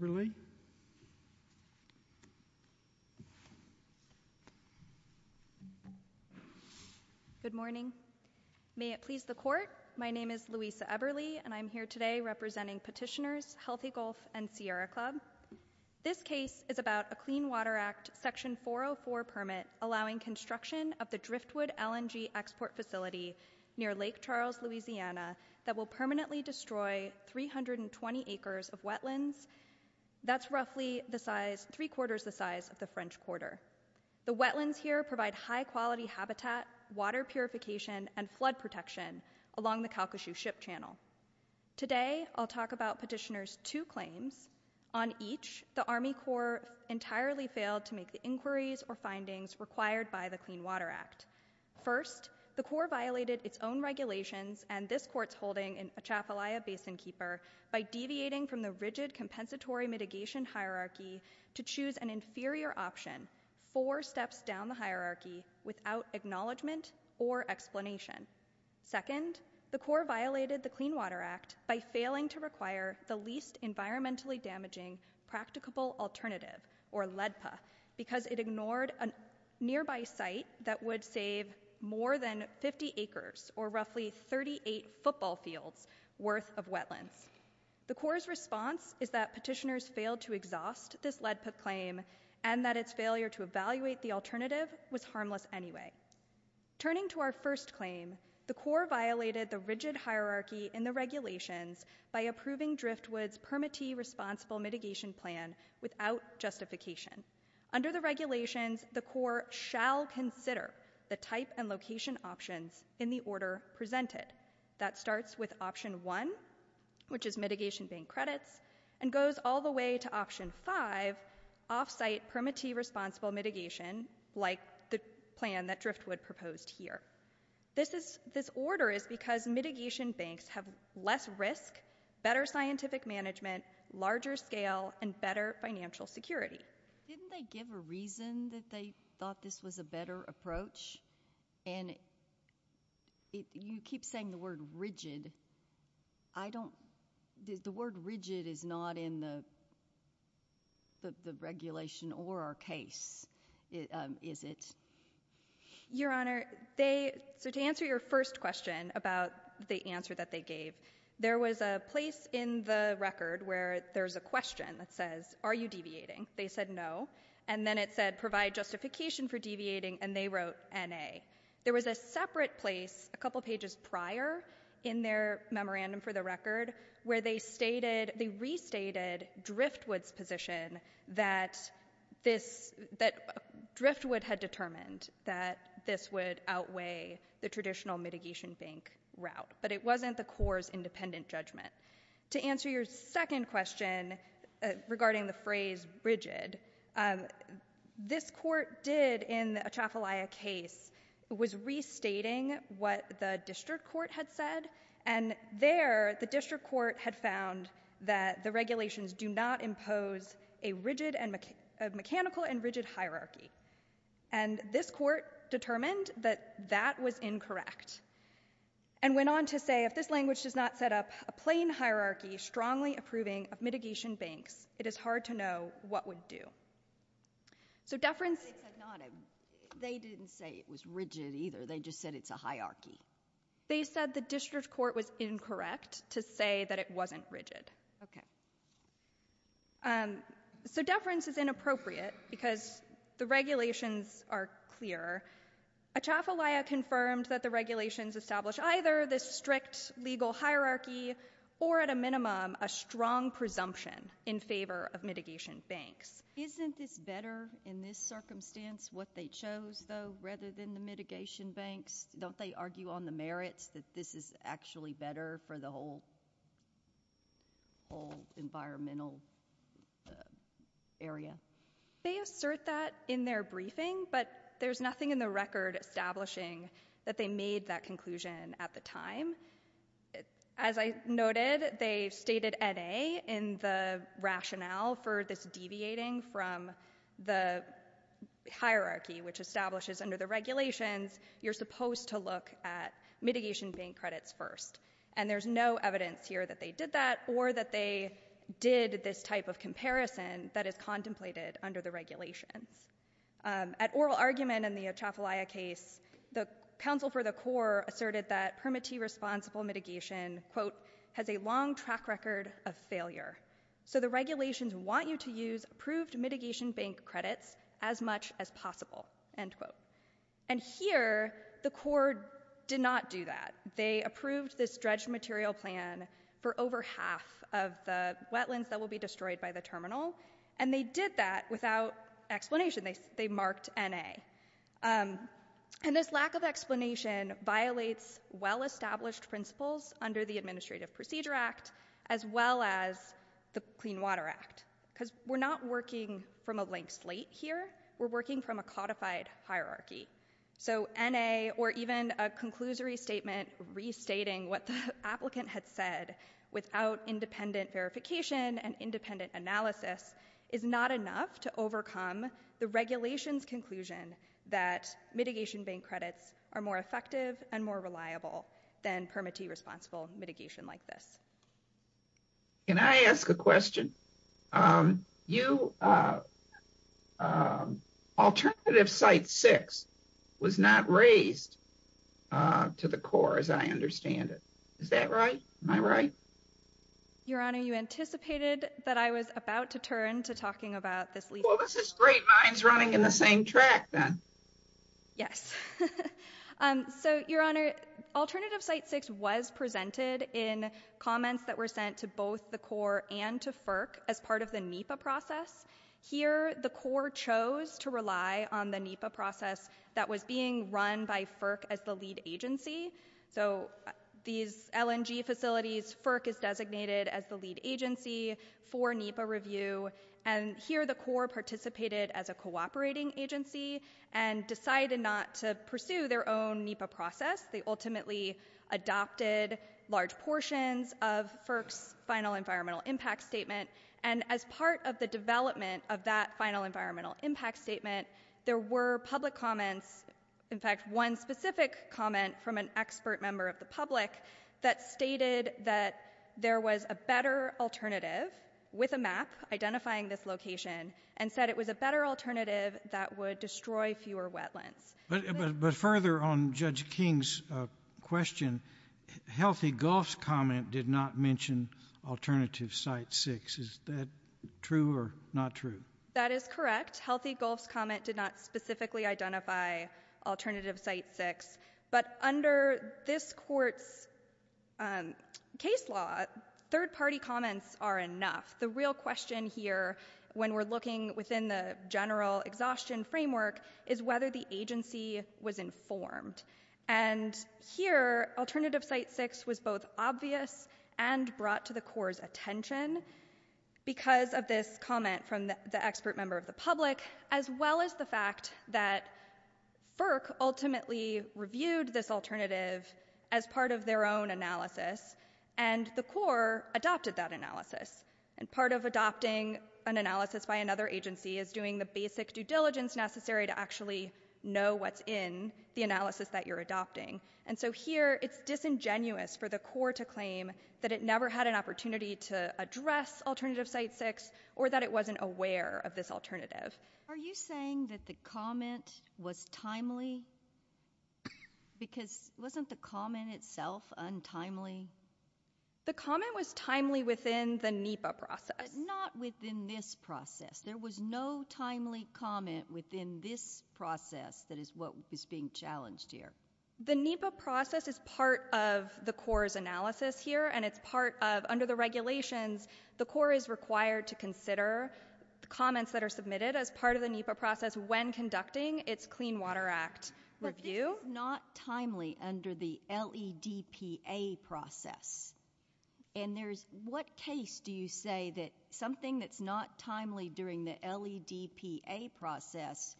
Everly. Good morning. May it please the court. My name is Louisa Everly and I'm here today representing petitioners, Healthy Gulf and Sierra Club. This case is about a Clean Water Act section 404 permit allowing construction of the driftwood LNG export facility near Lake Charles, Louisiana, that will permanently destroy 320 acres of wetlands. That's roughly the size, three quarters the size of the French Quarter. The wetlands here provide high quality habitat, water purification, and flood protection along the Calcasieu Ship Channel. Today I'll talk about petitioners two claims. On each, the Army Corps entirely failed to make the inquiries or findings required by the Clean Water Act. First, the Corps violated its own regulations and this court's holding in Atchafalaya Basin Keeper by deviating from the rigid compensatory mitigation hierarchy to choose an inferior option four steps down the hierarchy without acknowledgement or explanation. Second, the Corps violated the Clean Water Act by failing to require the least environmentally damaging practicable alternative or LEDPA because it has roughly 38 football fields worth of wetlands. The Corps' response is that petitioners failed to exhaust this LEDPA claim and that its failure to evaluate the alternative was harmless anyway. Turning to our first claim, the Corps violated the rigid hierarchy in the regulations by approving driftwoods permittee responsible mitigation plan without justification. Under the regulations, the Corps shall consider the type and location options in the order presented. That starts with option one, which is mitigation bank credits, and goes all the way to option five, offsite permittee responsible mitigation, like the plan that driftwood proposed here. This is, this order is because mitigation banks have less risk, better scientific management, larger scale, and better financial security. Didn't they give a reason that they thought this was a better approach? And you keep saying the word rigid. I don't, the word rigid is not in the regulation or our case, is it? Your Honor, they, so to answer your first question about the answer that they gave, there was a place in the record where there's a question that says, are you deviating? They said no. And then it said, provide justification for deviating, and they wrote N-A. There was a separate place a couple pages prior in their memorandum for the record where they stated, they restated driftwood's position that this, that driftwood had determined that this would be an independent judgment. To answer your second question regarding the phrase rigid, this court did, in the Atchafalaya case, was restating what the district court had said, and there, the district court had found that the regulations do not impose a rigid, a mechanical and rigid hierarchy. And this court determined that that was incorrect, and went on to say if this language does not set up a plain hierarchy, strongly approving of mitigation banks, it is hard to know what would do. So deference. They said not a, they didn't say it was rigid either. They just said it's a hierarchy. They said the district court was incorrect to say that it wasn't rigid. Okay. Um, so deference is inappropriate because the regulations are clear. Atchafalaya confirmed that the regulations establish either this strict legal hierarchy, or at a minimum, a strong presumption in favor of mitigation banks. Isn't this better in this circumstance, what they chose though, rather than the mitigation banks? Don't they argue on the merits that this is actually better for the whole, whole environmental area? They assert that in their briefing, but there's nothing in the record establishing that they made that conclusion at the time. As I noted, they stated N.A. in the rationale for this deviating from the hierarchy, which establishes under the regulations, you're supposed to look at mitigation bank credits first. And there's no evidence here that they did that, or that they did this type of comparison that is contemplated under the regulations. Um, at oral argument in the Atchafalaya case, the counsel for the court asserted that permittee responsible mitigation, quote, has a long track record of failure. So the regulations want you to use approved mitigation bank credits as much as possible, end quote. And here, the court did not do that. They approved this dredged material plan for over half of the wetlands that will be destroyed by the terminal, and they did that without explanation. They, they marked N.A. Um, and this lack of explanation violates well-established principles under the Administrative Procedure Act, as well as the Clean Water Act, because we're not working from a blank slate here. We're working from a codified hierarchy. So N.A., or even a conclusory statement restating what the not enough to overcome the regulations conclusion that mitigation bank credits are more effective and more reliable than permittee responsible mitigation like this. Can I ask a question? Um, you, uh, um, alternative site six was not raised, uh, to the core as I understand it. Is that right? Am I right? Your Honor, you anticipated that I was about to turn to talking about this legal... Well, this is great. Mine's running in the same track then. Yes. Um, so, Your Honor, alternative site six was presented in comments that were sent to both the core and to FERC as part of the NEPA process. Here, the core chose to rely on the NEPA process that was being run by FERC as the lead agency. So these LNG facilities, FERC is designated as the lead agency for NEPA review. And here, the core participated as a cooperating agency and decided not to pursue their own NEPA process. They ultimately adopted large portions of FERC's final environmental impact statement. And as part of the development of that final environmental impact statement, there were public comments, in fact, one specific comment from an expert member of the public that stated that there was a better alternative with a map identifying this location and said it was a better alternative that would destroy fewer wetlands. But further on Judge King's question, Healthy Gulf's comment did not mention alternative site six. Is that true or not true? That is correct. Healthy Gulf's comment did not specifically identify alternative site six. But under this court's, um, case law, third party comments are enough. The real question here when we're looking within the general exhaustion framework is whether the agency was informed. And here, alternative site six was both obvious and brought to the expert member of the public, as well as the fact that FERC ultimately reviewed this alternative as part of their own analysis. And the core adopted that analysis. And part of adopting an analysis by another agency is doing the basic due diligence necessary to actually know what's in the analysis that you're adopting. And so here, it's disingenuous for the core to claim that it never had an opportunity to address alternative site six or that it wasn't aware of this alternative. Are you saying that the comment was timely? Because wasn't the comment itself untimely? The comment was timely within the NEPA process. Not within this process. There was no timely comment within this process that is what was being challenged here. The NEPA process is part of the core's analysis here and it's part of, under the regulations, the core is required to consider the comments that are submitted as part of the NEPA process when conducting its Clean Water Act review. But this is not timely under the LEDPA process. And there's, what case do you say that something that's not timely during the LEDPA process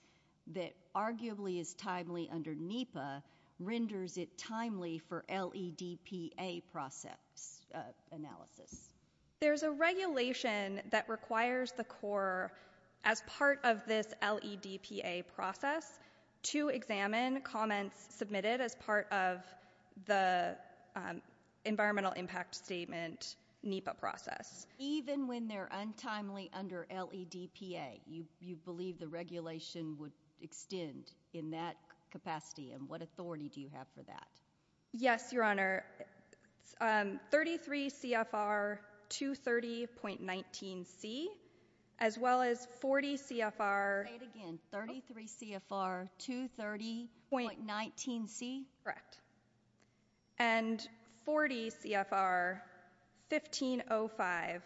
that arguably is timely under NEPA renders it timely for LEDPA process analysis? There's a regulation that requires the core as part of this LEDPA process to examine comments submitted as part of the environmental impact statement NEPA process. Even when they're untimely under LEDPA, you can't do that. Yes, Your Honor. 33 CFR 230.19C as well as 40 CFR. Say it again. 33 CFR 230.19C? Correct. And 40 CFR 1505.2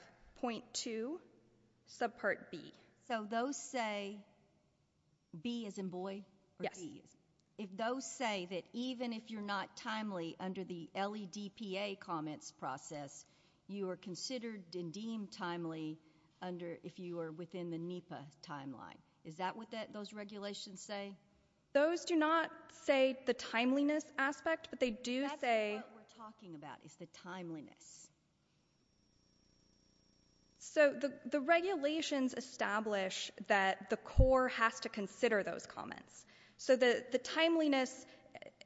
subpart B. So those say B as in boy or D as in boy? Yes. If those say that even if you're not timely under the LEDPA comments process, you are considered and deemed timely under, if you are within the NEPA timeline. Is that what those regulations say? Those do not say the timeliness aspect, but they do say... That's what we're talking about is the timeliness. So the regulations establish that the core has to consider those timeliness.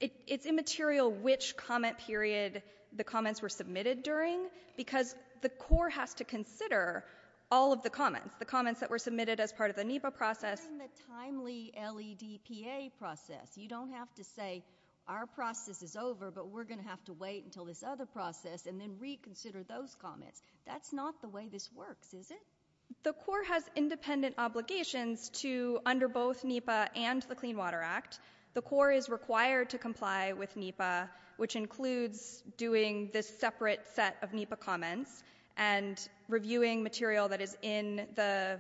It's immaterial which comment period the comments were submitted during because the core has to consider all of the comments, the comments that were submitted as part of the NEPA process. In the timely LEDPA process, you don't have to say our process is over, but we're going to have to wait until this other process and then reconsider those comments. That's not the way this works, is it? The core has independent obligations to under both NEPA and the Clean Water Act, the core is required to comply with NEPA, which includes doing this separate set of NEPA comments and reviewing material that is in the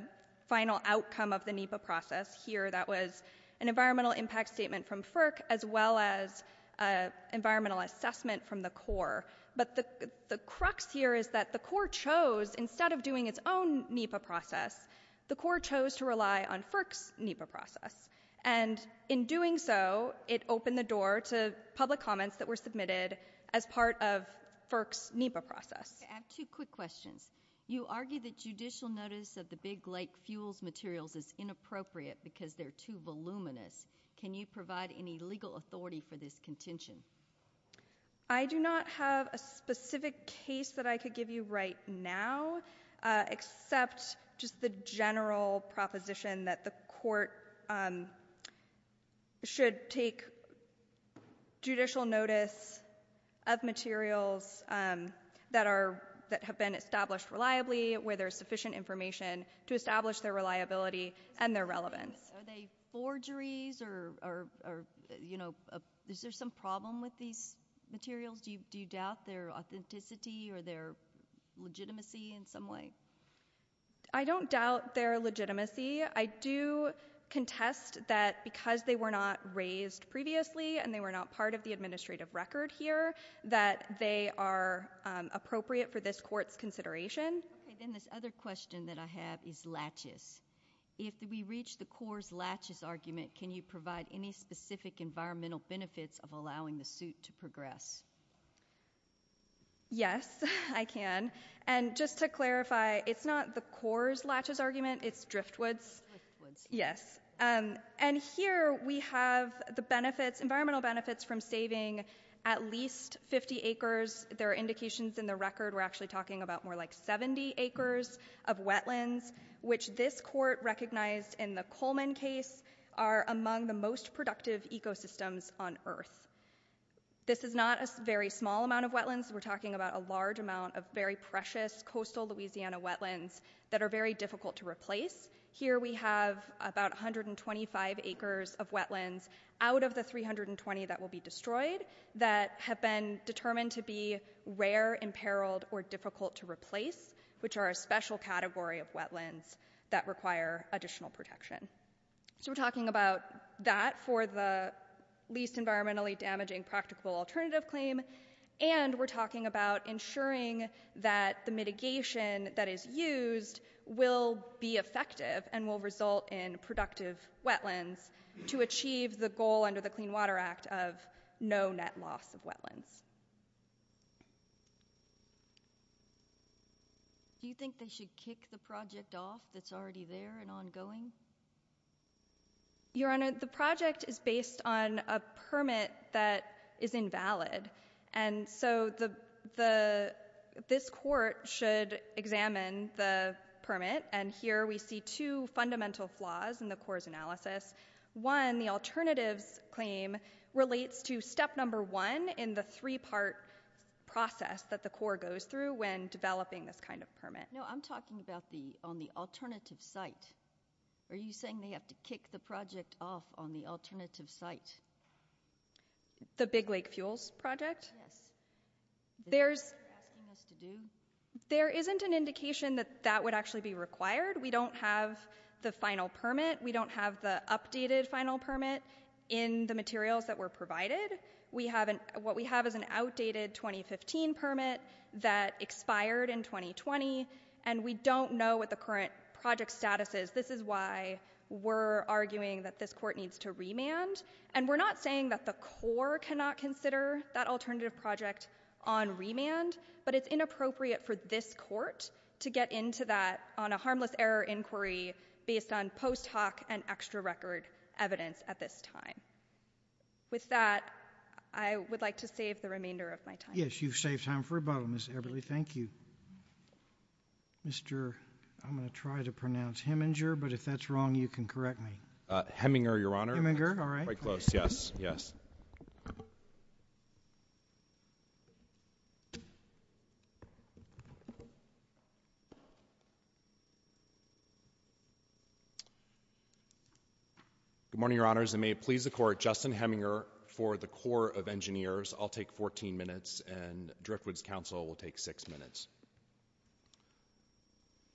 final outcome of the NEPA process. Here that was an environmental impact statement from FERC as well as a environmental assessment from the core. But the crux here is that the core chose, instead of doing its own NEPA process, the core chose to rely on FERC's NEPA process. And in doing so, it opened the door to public comments that were submitted as part of FERC's NEPA process. I have two quick questions. You argue that judicial notice of the Big Lake fuels materials is inappropriate because they're too voluminous. Can you provide any legal authority for this contention? I do not have a specific case that I could give you right now, except just the general proposition that the court should take judicial notice of materials that have been established reliably, where there's sufficient information to establish their reliability and their relevance. Are they forgeries? Is there some problem with these materials? Do you doubt their authenticity or their legitimacy in some way? I don't doubt their legitimacy. I do contest that because they were not raised previously and they were not part of the administrative record here, that they are appropriate for this court's consideration. This other question that I have is latches. If we reach the core's latches argument, can you provide any specific environmental benefits of allowing the suit to progress? Yes, I can. And just to clarify, it's not the core's latches argument, it's Driftwood's. Here we have the environmental benefits from saving at least 50 acres. There are indications in the record we're actually talking about more like 70 acres of wetlands, which this court recognized in the Coleman case are among the most productive ecosystems on earth. This is not a very small amount of wetlands. We're talking about a large amount of very precious coastal Louisiana wetlands that are very difficult to replace. Here we have about 125 acres of imperiled or difficult to replace, which are a special category of wetlands that require additional protection. So we're talking about that for the least environmentally damaging practical alternative claim and we're talking about ensuring that the mitigation that is used will be effective and will result in productive wetlands to achieve the goal under the Clean Water Act of no net loss of wetlands. Do you think they should kick the project off that's already there and ongoing? Your Honor, the project is based on a permit that is invalid and so this court should examine the permit and here we see two fundamental flaws in the core's analysis. One, the alternatives claim relates to step number one in the three part process that the court goes through when developing this kind of permit. No, I'm talking about on the alternative site. Are you saying they have to kick the project off on the alternative site? The Big Lake Fuels project? Yes. Is that what you're asking us to do? There isn't an indication that that would actually be required. We don't have the final plan permit in the materials that were provided. What we have is an outdated 2015 permit that expired in 2020 and we don't know what the current project status is. This is why we're arguing that this court needs to remand and we're not saying that the core cannot consider that alternative project on remand, but it's inappropriate for this court to get into that on a harmless error inquiry based on post hoc and extra record evidence at this time. With that, I would like to save the remainder of my time. Yes, you've saved time for rebuttal, Ms. Everly. Thank you. Mr. I'm going to try to pronounce Heminger, but if that's wrong, you can correct me. Heminger, Your Honor. Heminger, all right. Very close, yes, yes. Good morning, Your Honors. I may please the court. Justin Heminger for the Corps of Engineers. I'll take 14 minutes and Driftwoods Council will take six minutes.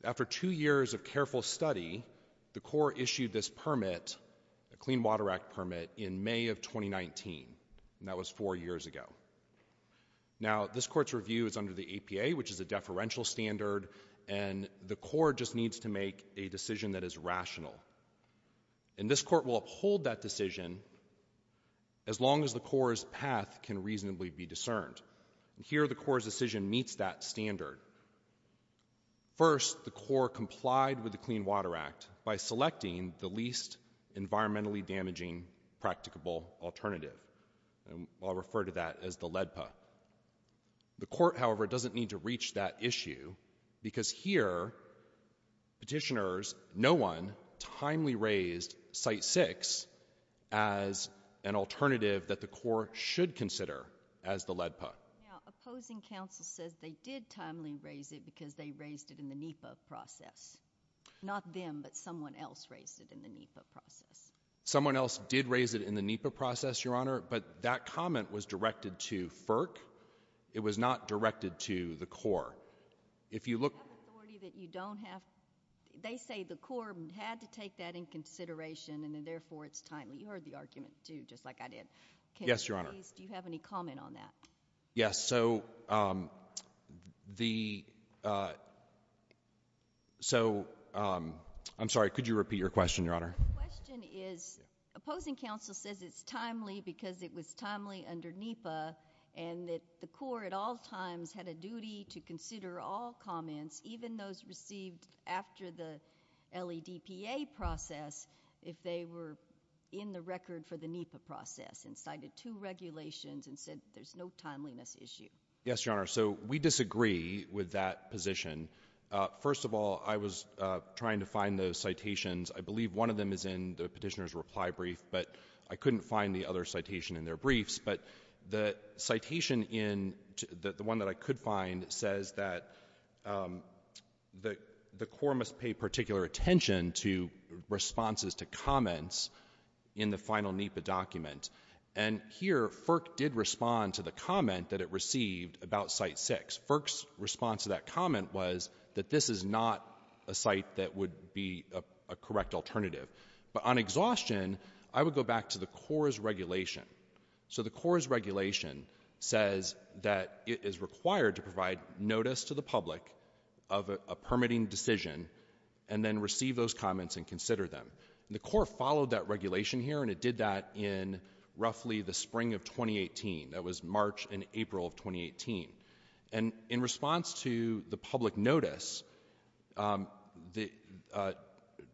After two years of careful study, the Corps issued this permit, a Clean Water Act permit, in May of 2019, and that was four years ago. Now, this court's review is under the APA, which is a deferential standard, and the Corps just needs to make a decision that is rational. And this court will uphold that decision as long as the Corps' path can reasonably be discerned. Here, the Corps' decision meets that standard. First, the Corps complied with the Clean Water Act by selecting the least environmentally damaging practicable alternative. I'll refer to that as the LEDPA. The court, however, doesn't need to reach that issue because here, petitioners, no one timely raised Site 6 as an alternative that the Corps should consider as the LEDPA. Now, opposing counsel says they did timely raise it because they raised it in the NEPA process. Not them, but someone else raised it in the NEPA process. Someone else did raise it in the NEPA process, Your Honor, but that comment was directed to FERC. It was not directed to the Corps. Do you have authority that you don't have? They say the Corps had to take that in consideration, and therefore it's timely. You heard the argument, too, just like I did. Yes, Your Honor. Do you have any comment on that? Yes. So, I'm sorry, could you repeat your question, Your Honor? The question is, opposing counsel says it's timely because it was timely under NEPA and that the Corps at all times had a duty to consider all comments, even those received after the LEDPA process, if they were in the record for the NEPA process and cited two regulations and said there's no timeliness issue. Yes, Your Honor. So, we disagree with that position. First of all, I was trying to find the citations. I believe one of them is in the petitioner's reply brief, but I couldn't find the other citation in their briefs. But the citation, the one that I could find, says that the Corps must pay particular attention to responses to comments in the final NEPA document. And here, FERC did respond to the comment that it received about Site 6. FERC's response to that comment was that this is not a site that would be a correct alternative. But on exhaustion, I would go back to the Corps' regulation. So the Corps' regulation says that it is required to provide notice to the public of a permitting decision and then receive those comments and consider them. The Corps followed that regulation here, and it did that in roughly the spring of 2018. That was March and April of 2018. And in response to the public notice, the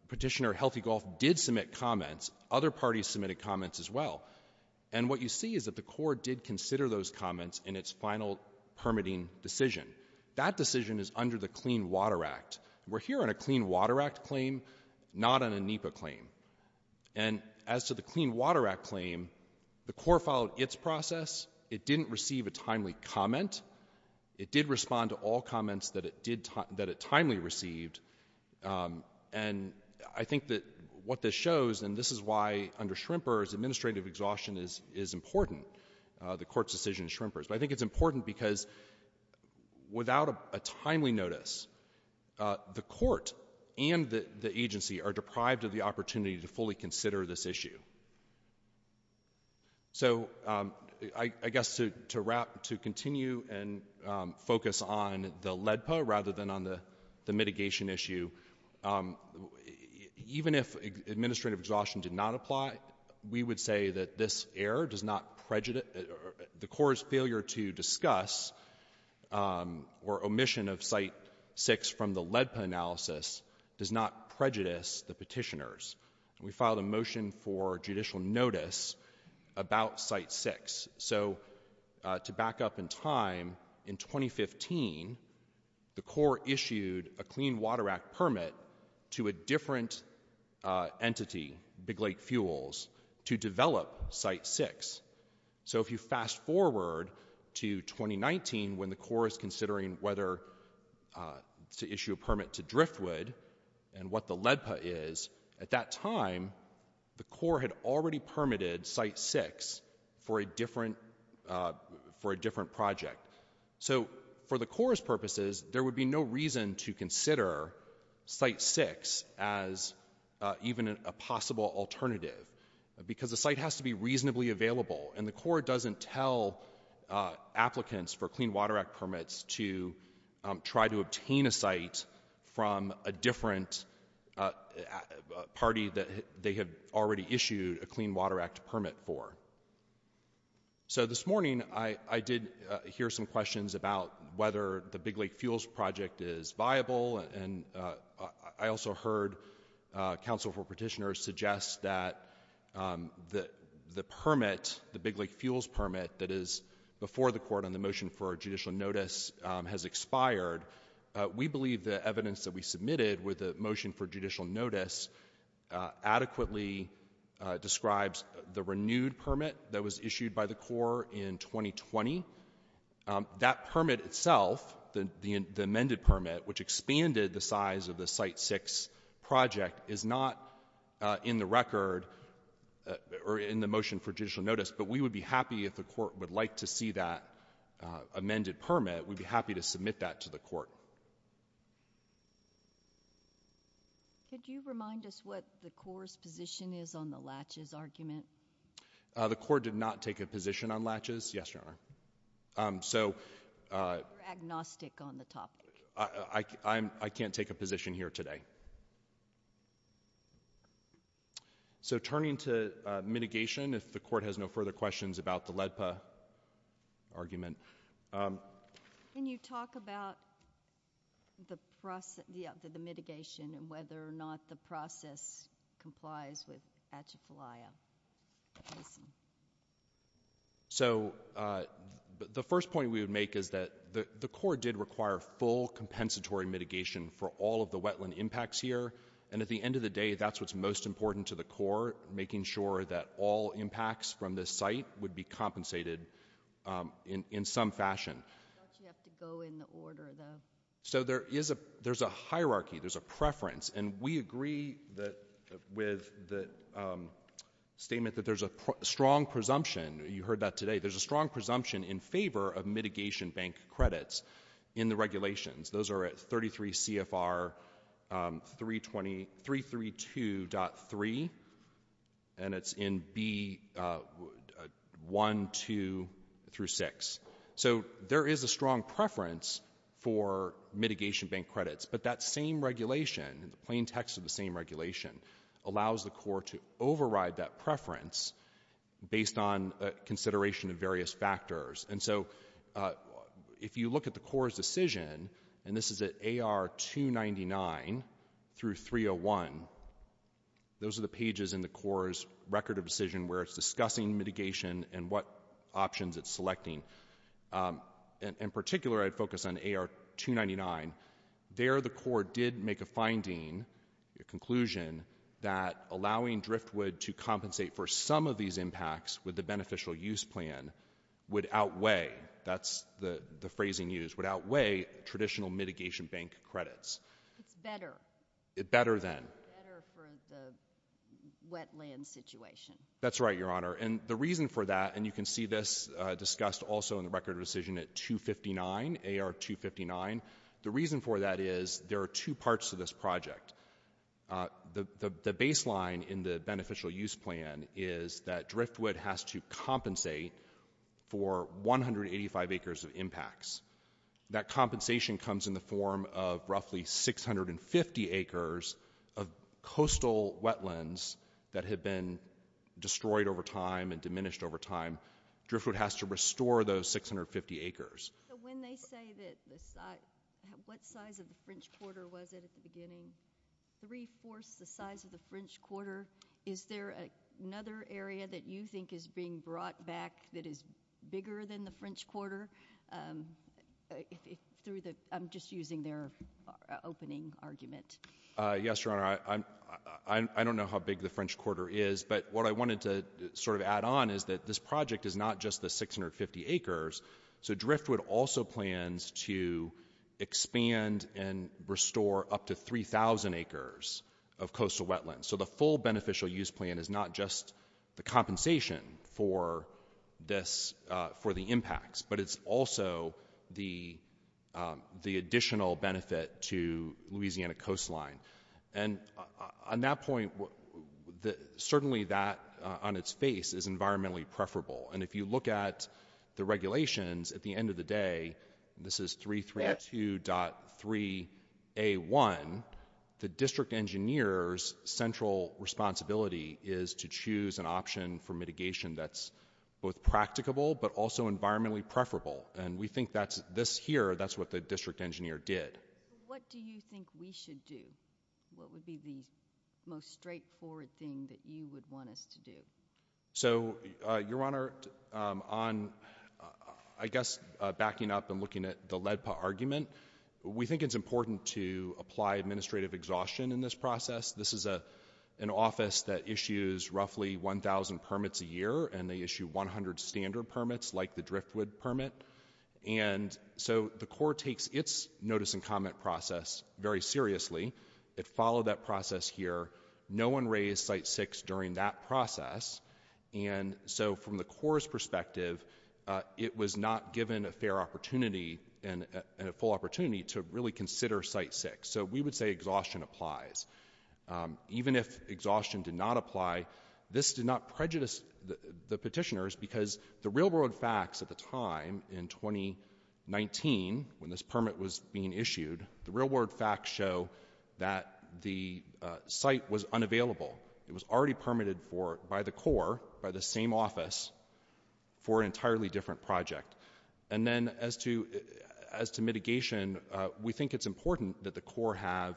petitioner, Healthy Gulf, did submit comments. Other parties submitted comments as well. And what you see is that the Corps did consider those comments in its final permitting decision. That decision is under the Clean Water Act. We're here on a Clean Water Act claim, not on a NEPA claim. And as to the Clean Water Act claim, the Corps followed its process. It didn't receive a timely comment. It did respond to all comments that it timely received. And I think that what this shows, and this is why under SHRMPers, administrative exhaustion is important, the court's decision in SHRMPers. But I think it's important because without a timely notice, the court and the agency are deprived of the opportunity to fully consider this issue. So I guess to continue and focus on the LEDPA rather than on the mitigation issue, even if administrative exhaustion did not apply, we would say that the Corps' failure to discuss or omission of Site 6 from the LEDPA analysis does not prejudice the petitioners. We filed a motion for judicial notice about Site 6. So to back up in time, in 2015, the Corps issued a Clean Water Act permit to a different entity, Big Lake Fuels, to develop Site 6. So if you fast forward to 2019 when the Corps is considering whether to issue a permit to Driftwood and what the LEDPA is, at that time the Corps had already permitted Site 6 for a different project. So for the Corps' purposes, there would be no reason to consider Site 6 as even a possible alternative because the site has to be reasonably available, and the Corps doesn't tell applicants for Clean Water Act permits to try to obtain a site from a different party that they have already issued a Clean Water Act permit for. So this morning I did hear some questions about whether the Big Lake Fuels project is viable, and I also heard counsel for petitioners suggest that the permit, the Big Lake Fuels permit, that is before the Court on the motion for judicial notice has expired. We believe the evidence that we submitted with the motion for judicial notice adequately describes the renewed permit that was issued by the Corps in 2020. That permit itself, the amended permit, which expanded the size of the Site 6 project, is not in the record or in the motion for judicial notice, but we would be happy if the Court would like to see that amended permit. We'd be happy to submit that to the Court. Could you remind us what the Corps' position is on the latches argument? The Corps did not take a position on latches. Yes, Your Honor. You're agnostic on the topic. I can't take a position here today. Okay. So turning to mitigation, if the Court has no further questions about the LEDPA argument. Can you talk about the mitigation and whether or not the process complies with Atchafalaya? So the first point we would make is that the Corps did require full compensatory mitigation for all of the wetland impacts here, and at the end of the day, that's what's most important to the Corps, making sure that all impacts from this site would be compensated in some fashion. I thought you have to go in order, though. So there's a hierarchy, there's a preference, and we agree with the statement that there's a strong presumption. You heard that today. There's a strong presumption in favor of mitigation bank credits in the regulations. Those are at 33 CFR 332.3, and it's in B.1.2 through 6. So there is a strong preference for mitigation bank credits, but that same regulation, the plain text of the same regulation, allows the Corps to override that preference based on consideration of various factors. And so if you look at the Corps' decision, and this is at AR 299 through 301, those are the pages in the Corps' record of decision where it's discussing mitigation and what options it's selecting. In particular, I'd focus on AR 299. There the Corps did make a finding, a conclusion, that allowing driftwood to compensate for some of these impacts with the beneficial use plan would outweigh, that's the phrasing used, would outweigh traditional mitigation bank credits. It's better. Better than. Better for the wetland situation. That's right, Your Honor, and the reason for that, and you can see this discussed also in the record of decision at 259, AR 259, the reason for that is there are two parts to this project. The baseline in the beneficial use plan is that driftwood has to compensate for 185 acres of impacts. That compensation comes in the form of roughly 650 acres of coastal wetlands that have been destroyed over time and diminished over time. Driftwood has to restore those 650 acres. When they say what size of the French Quarter was it at the beginning, three-fourths the size of the French Quarter, is there another area that you think is being brought back that is bigger than the French Quarter? I'm just using their opening argument. Yes, Your Honor. I don't know how big the French Quarter is, but what I wanted to sort of add on is that this project is not just the 650 acres, so driftwood also plans to expand and restore up to 3,000 acres of coastal wetlands. So the full beneficial use plan is not just the compensation for the impacts, but it's also the additional benefit to Louisiana coastline. And on that point, certainly that on its face is environmentally preferable, and if you look at the regulations at the end of the day, this is 332.3A1, the district engineer's central responsibility is to choose an option for mitigation that's both practicable but also environmentally preferable, and we think this here, that's what the district engineer did. What do you think we should do? What would be the most straightforward thing that you would want us to do? So, Your Honor, on I guess backing up and looking at the LEDPA argument, we think it's important to apply administrative exhaustion in this process. This is an office that issues roughly 1,000 permits a year, and they issue 100 standard permits like the driftwood permit. And so the court takes its notice and comment process very seriously. It followed that process here. No one raised Site 6 during that process, and so from the court's perspective, it was not given a fair opportunity and a full opportunity to really consider Site 6. So we would say exhaustion applies. Even if exhaustion did not apply, this did not prejudice the petitioners because the real-world facts at the time in 2019 when this permit was being issued, the real-world facts show that the site was unavailable. It was already permitted by the Corps, by the same office, for an entirely different project. And then as to mitigation, we think it's important that the Corps have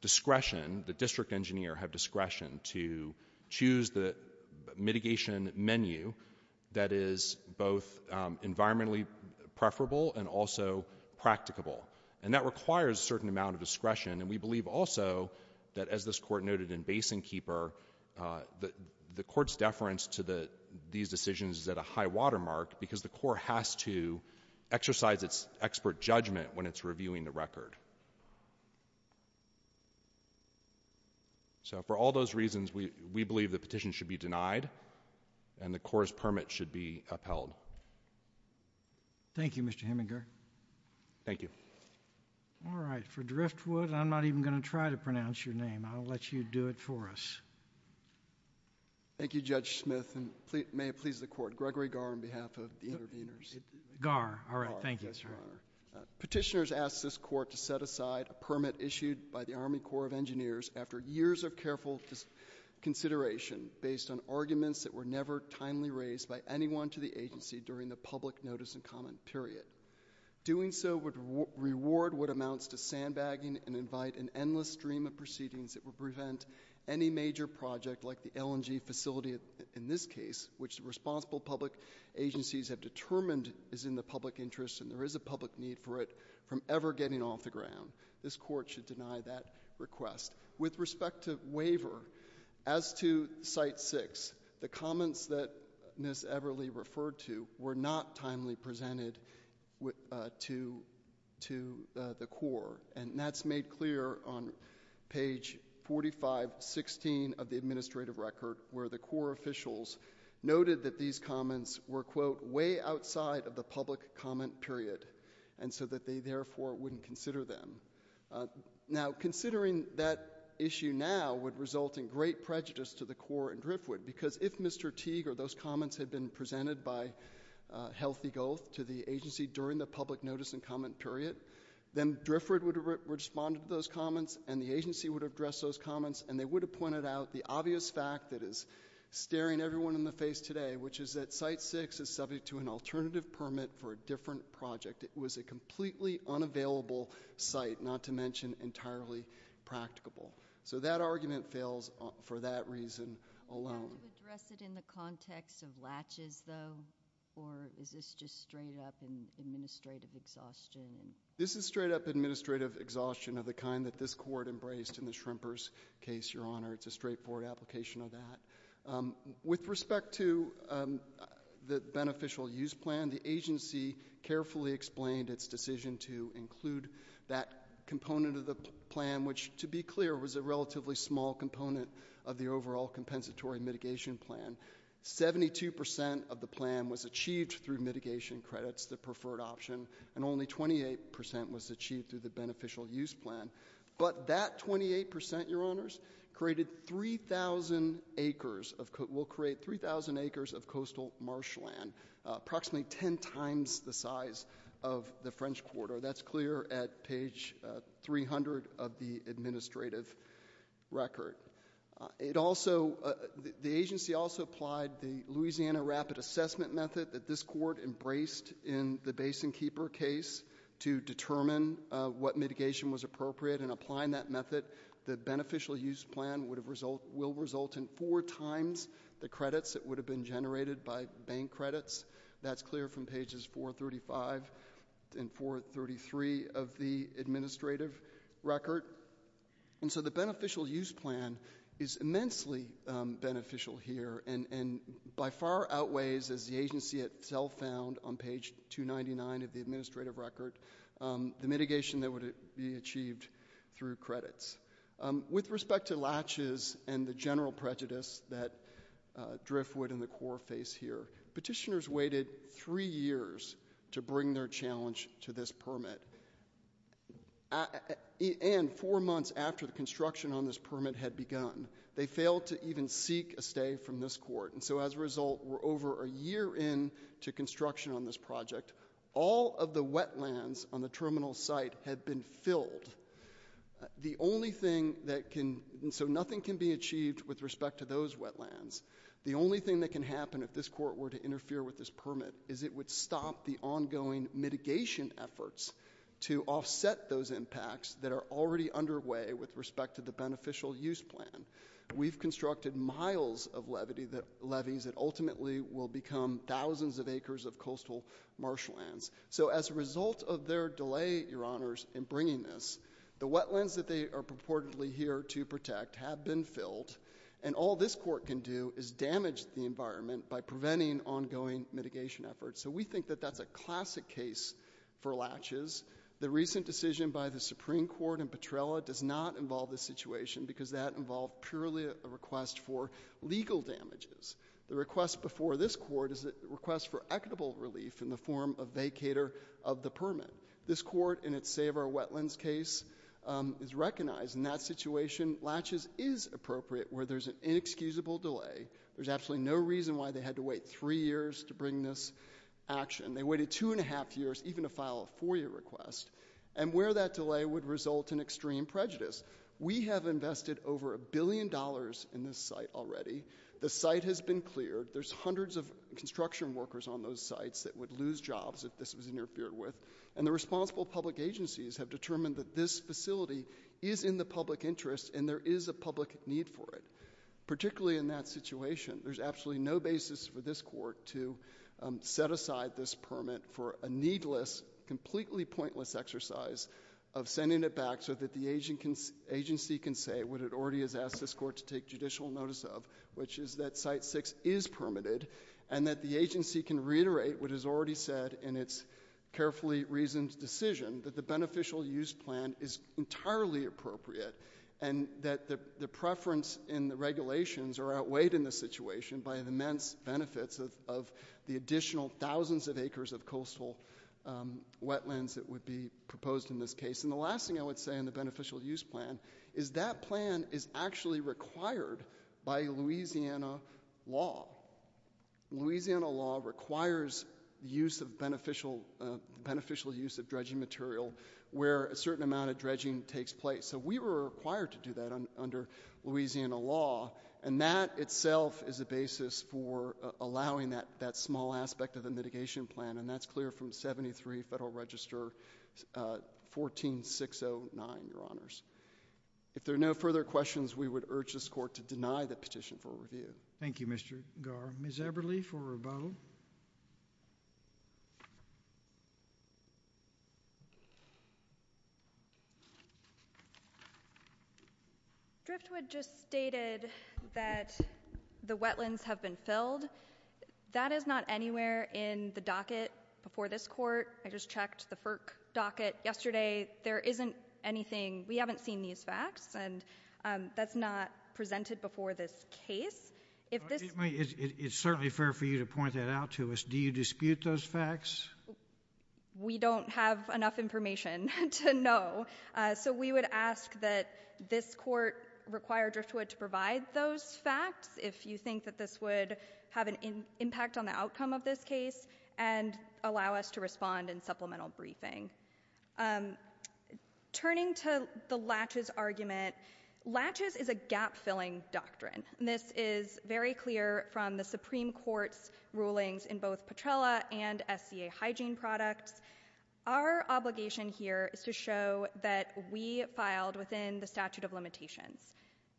discretion, the district engineer have discretion to choose the mitigation menu that is both environmentally preferable and also practicable. And that requires a certain amount of discretion, and we believe also that, as this court noted in Basin Keeper, the court's deference to these decisions is at a high-water mark because the Corps has to exercise its expert judgment when it's reviewing the record. So for all those reasons, we believe the petition should be denied and the Corps' permit should be upheld. Thank you, Mr. Heminger. Thank you. All right. For Driftwood, I'm not even going to try to pronounce your name. I'll let you do it for us. Thank you, Judge Smith. And may it please the Court, Gregory Garr on behalf of the interveners. Garr. All right. Thank you. Petitioners asked this court to set aside a permit issued by the Army Corps of Engineers after years of careful consideration based on arguments that were never timely raised by anyone to the agency during the public notice and comment period. Doing so would reward what amounts to sandbagging and invite an endless stream of proceedings that would prevent any major project, like the LNG facility in this case, which the responsible public agencies have determined is in the public interest and there is a public need for it from ever getting off the ground. This court should deny that request. With respect to waiver, as to Site 6, the comments that Ms. Everly referred to were not timely presented to the Corps, and that's made clear on page 4516 of the administrative record where the Corps officials noted that these comments were, quote, way outside of the public comment period, and so that they therefore wouldn't consider them. Now, considering that issue now would result in great prejudice to the Corps and Driftwood because if Mr. Teague or those comments had been presented by Healthy Gulf to the agency during the public notice and comment period, then Driftwood would have responded to those comments and the agency would have addressed those comments and they would have pointed out the obvious fact that is staring everyone in the face today, which is that Site 6 is subject to an alternative permit for a different project. It was a completely unavailable site, not to mention entirely practicable. So that argument fails for that reason alone. Are you going to address it in the context of latches, though, or is this just straight-up administrative exhaustion? This is straight-up administrative exhaustion of the kind that this court embraced in the Shrimpers case, Your Honor. It's a straightforward application of that. With respect to the beneficial use plan, the agency carefully explained its decision to include that component of the plan, which, to be clear, was a relatively small component of the overall compensatory mitigation plan. Seventy-two percent of the plan was achieved through mitigation credits, the preferred option, and only 28 percent was achieved through the beneficial use plan. But that 28 percent, Your Honors, will create 3,000 acres of coastal marshland, approximately ten times the size of the French Quarter. That's clear at page 300 of the administrative record. The agency also applied the Louisiana Rapid Assessment Method that this court embraced in the Basin Keeper case to determine what mitigation was appropriate, and applying that method, by bank credits. That's clear from pages 435 and 433 of the administrative record. And so the beneficial use plan is immensely beneficial here and by far outweighs, as the agency itself found on page 299 of the administrative record, the mitigation that would be achieved through credits. With respect to latches and the general prejudice that Driftwood and the Corps face here, petitioners waited three years to bring their challenge to this permit, and four months after the construction on this permit had begun. They failed to even seek a stay from this court, and so as a result, we're over a year into construction on this project. All of the wetlands on the terminal site had been filled. The only thing that can... So nothing can be achieved with respect to those wetlands. The only thing that can happen if this court were to interfere with this permit is it would stop the ongoing mitigation efforts to offset those impacts that are already underway with respect to the beneficial use plan. We've constructed miles of levees that ultimately will become thousands of acres of coastal marshlands. So as a result of their delay, Your Honors, in bringing this, the wetlands that they are purportedly here to protect have been filled, and all this court can do is damage the environment by preventing ongoing mitigation efforts. So we think that that's a classic case for latches. The recent decision by the Supreme Court in Petrella does not involve this situation because that involved purely a request for legal damages. The request before this court is a request for equitable relief in the form of vacator of the permit. This court, in its Save Our Wetlands case, is recognized in that situation. Latches is appropriate where there's an inexcusable delay. There's absolutely no reason why they had to wait three years to bring this action. They waited two and a half years even to file a four-year request, and where that delay would result in extreme prejudice. We have invested over a billion dollars in this site already. The site has been cleared. There's hundreds of construction workers on those sites that would lose jobs if this was interfered with, and the responsible public agencies have determined that this facility is in the public interest and there is a public need for it. Particularly in that situation, there's absolutely no basis for this court to set aside this permit for a needless, completely pointless exercise of sending it back so that the agency can say what it already has asked this court to take judicial notice of, which is that Site 6 is permitted and that the agency can reiterate what is already said in its carefully reasoned decision, that the beneficial use plan is entirely appropriate and that the preference in the regulations are outweighed in this situation by the immense benefits of the additional thousands of acres of coastal wetlands that would be proposed in this case. And the last thing I would say on the beneficial use plan is that plan is actually required by Louisiana law. Louisiana law requires the beneficial use of dredging material where a certain amount of dredging takes place. So we were required to do that under Louisiana law, and that itself is a basis for allowing that small aspect of the mitigation plan, and that's clear from 73 Federal Register 14609, Your Honors. If there are no further questions, we would urge this court to deny the petition for review. Thank you, Mr. Garr. Ms. Eberle for Rabeau. Driftwood just stated that the wetlands have been filled. That is not anywhere in the docket before this court. I just checked the FERC docket yesterday. There isn't anything. We haven't seen these facts, and that's not presented before this case. It's certainly fair for you to point that out to us. Do you dispute those facts? We don't have enough information to know. So we would ask that this court require Driftwood to provide those facts if you think that this would have an impact on the outcome of this case and allow us to respond in supplemental briefing. Turning to the latches argument, latches is a gap-filling doctrine, and this is very clear from the Supreme Court's rulings in both Petrella and SCA hygiene products. Our obligation here is to show that we filed within the statute of limitations.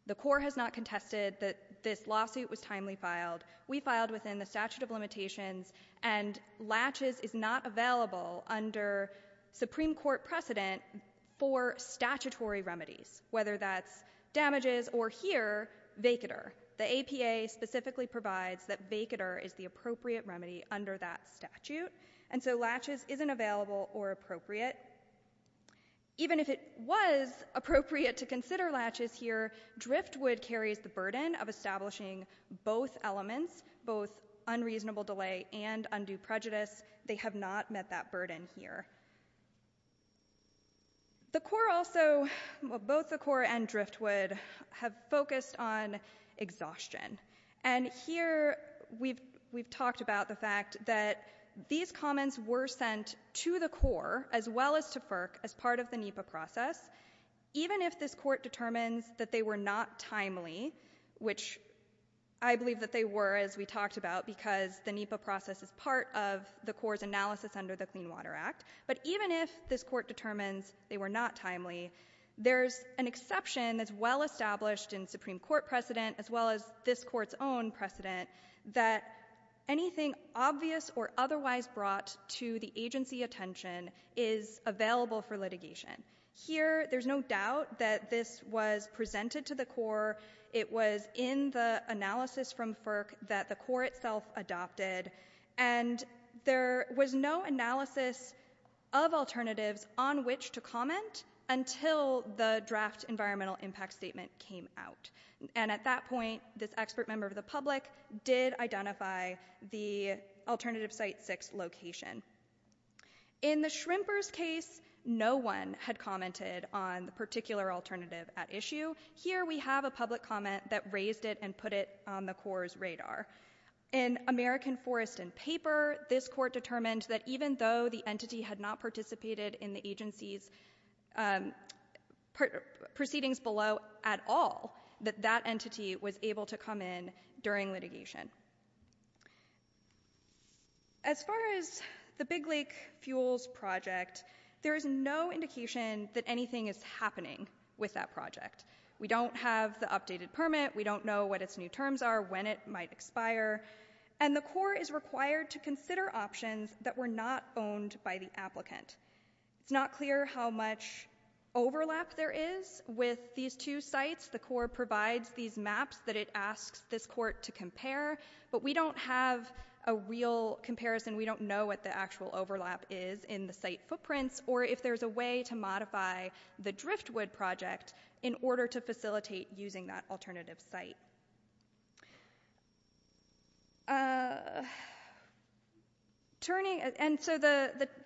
The court has not contested that this lawsuit was timely filed. We filed within the statute of limitations, and latches is not available under Supreme Court precedent for statutory remedies, whether that's damages or here, vacatur. The APA specifically provides that vacatur is the appropriate remedy under that statute, and so latches isn't available or appropriate. Even if it was appropriate to consider latches here, Driftwood carries the burden of establishing both elements, both unreasonable delay and undue prejudice. They have not met that burden here. The court also, both the court and Driftwood, have focused on exhaustion, and here we've talked about the fact that these comments were sent to the court as well as to FERC as part of the NEPA process. Even if this court determines that they were not timely, which I believe that they were, as we talked about, because the NEPA process is part of the court's analysis under the Clean Water Act, but even if this court determines they were not timely, there's an exception that's well-established in Supreme Court precedent as well as this court's own precedent that anything obvious or otherwise brought to the agency attention is available for litigation. Here, there's no doubt that this was presented to the court. It was in the analysis from FERC that the court itself adopted, and there was no analysis of alternatives on which to comment until the draft environmental impact statement came out, and at that point, this expert member of the public did identify the Alternative Site 6 location. In the Shrimper's case, no one had commented on the particular alternative at issue. Here, we have a public comment that raised it and put it on the court's radar. In American Forest and Paper, this court determined that even though the entity had not participated in the agency's proceedings below at all, that that entity was able to come in during litigation. As far as the Big Lake fuels project, there is no indication that anything is happening with that project. We don't have the updated permit. We don't know what its new terms are, when it might expire, and the court is required to consider options that were not owned by the applicant. It's not clear how much overlap there is with these two sites, the court provides these maps that it asks this court to compare, but we don't have a real comparison. We don't know what the actual overlap is in the site footprints, or if there's a way to modify the Driftwood project in order to facilitate using that alternative site. So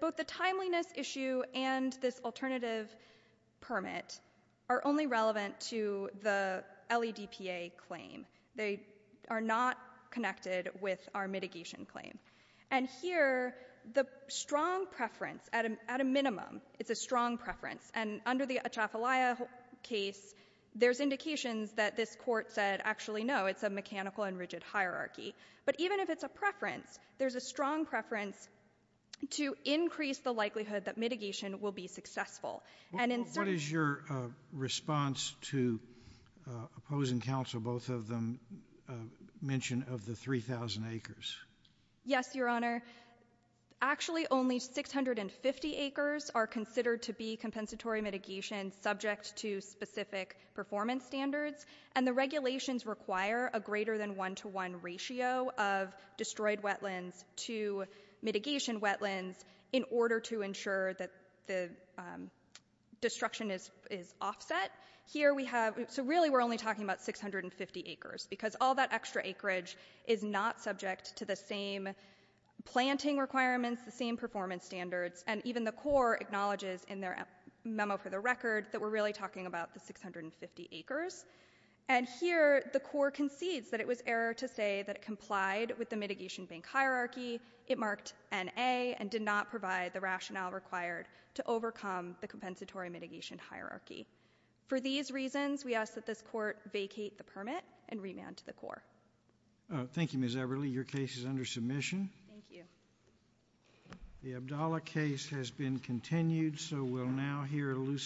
both the timeliness issue and this alternative permit are only relevant to the LEDPA claim. They are not connected with our mitigation claim. And here, the strong preference, at a minimum, it's a strong preference, and under the Atchafalaya case, there's indications that this court said, actually, no, it's a mechanical and rigid hierarchy. But even if it's a preference, there's a strong preference to increase the likelihood that mitigation will be successful. What is your response to opposing counsel, both of them mention of the 3,000 acres? Yes, Your Honor. Actually, only 650 acres are considered to be compensatory mitigation subject to specific performance standards, and the regulations require a greater than one-to-one ratio of destroyed wetlands to mitigation wetlands in order to ensure that the destruction is offset. So really, we're only talking about 650 acres, because all that extra acreage is not subject to the same planting requirements, the same performance standards, and even the court acknowledges in their memo for the record that we're really talking about the 650 acres. And here, the court concedes that it was error to say that it complied with the mitigation bank hierarchy, it marked N-A, and did not provide the rationale required to overcome the compensatory mitigation hierarchy. For these reasons, we ask that this court vacate the permit and remand to the court. Thank you, Ms. Everly. Your case is under submission. Thank you. The Abdallah case has been continued, so we'll now hear a loose term.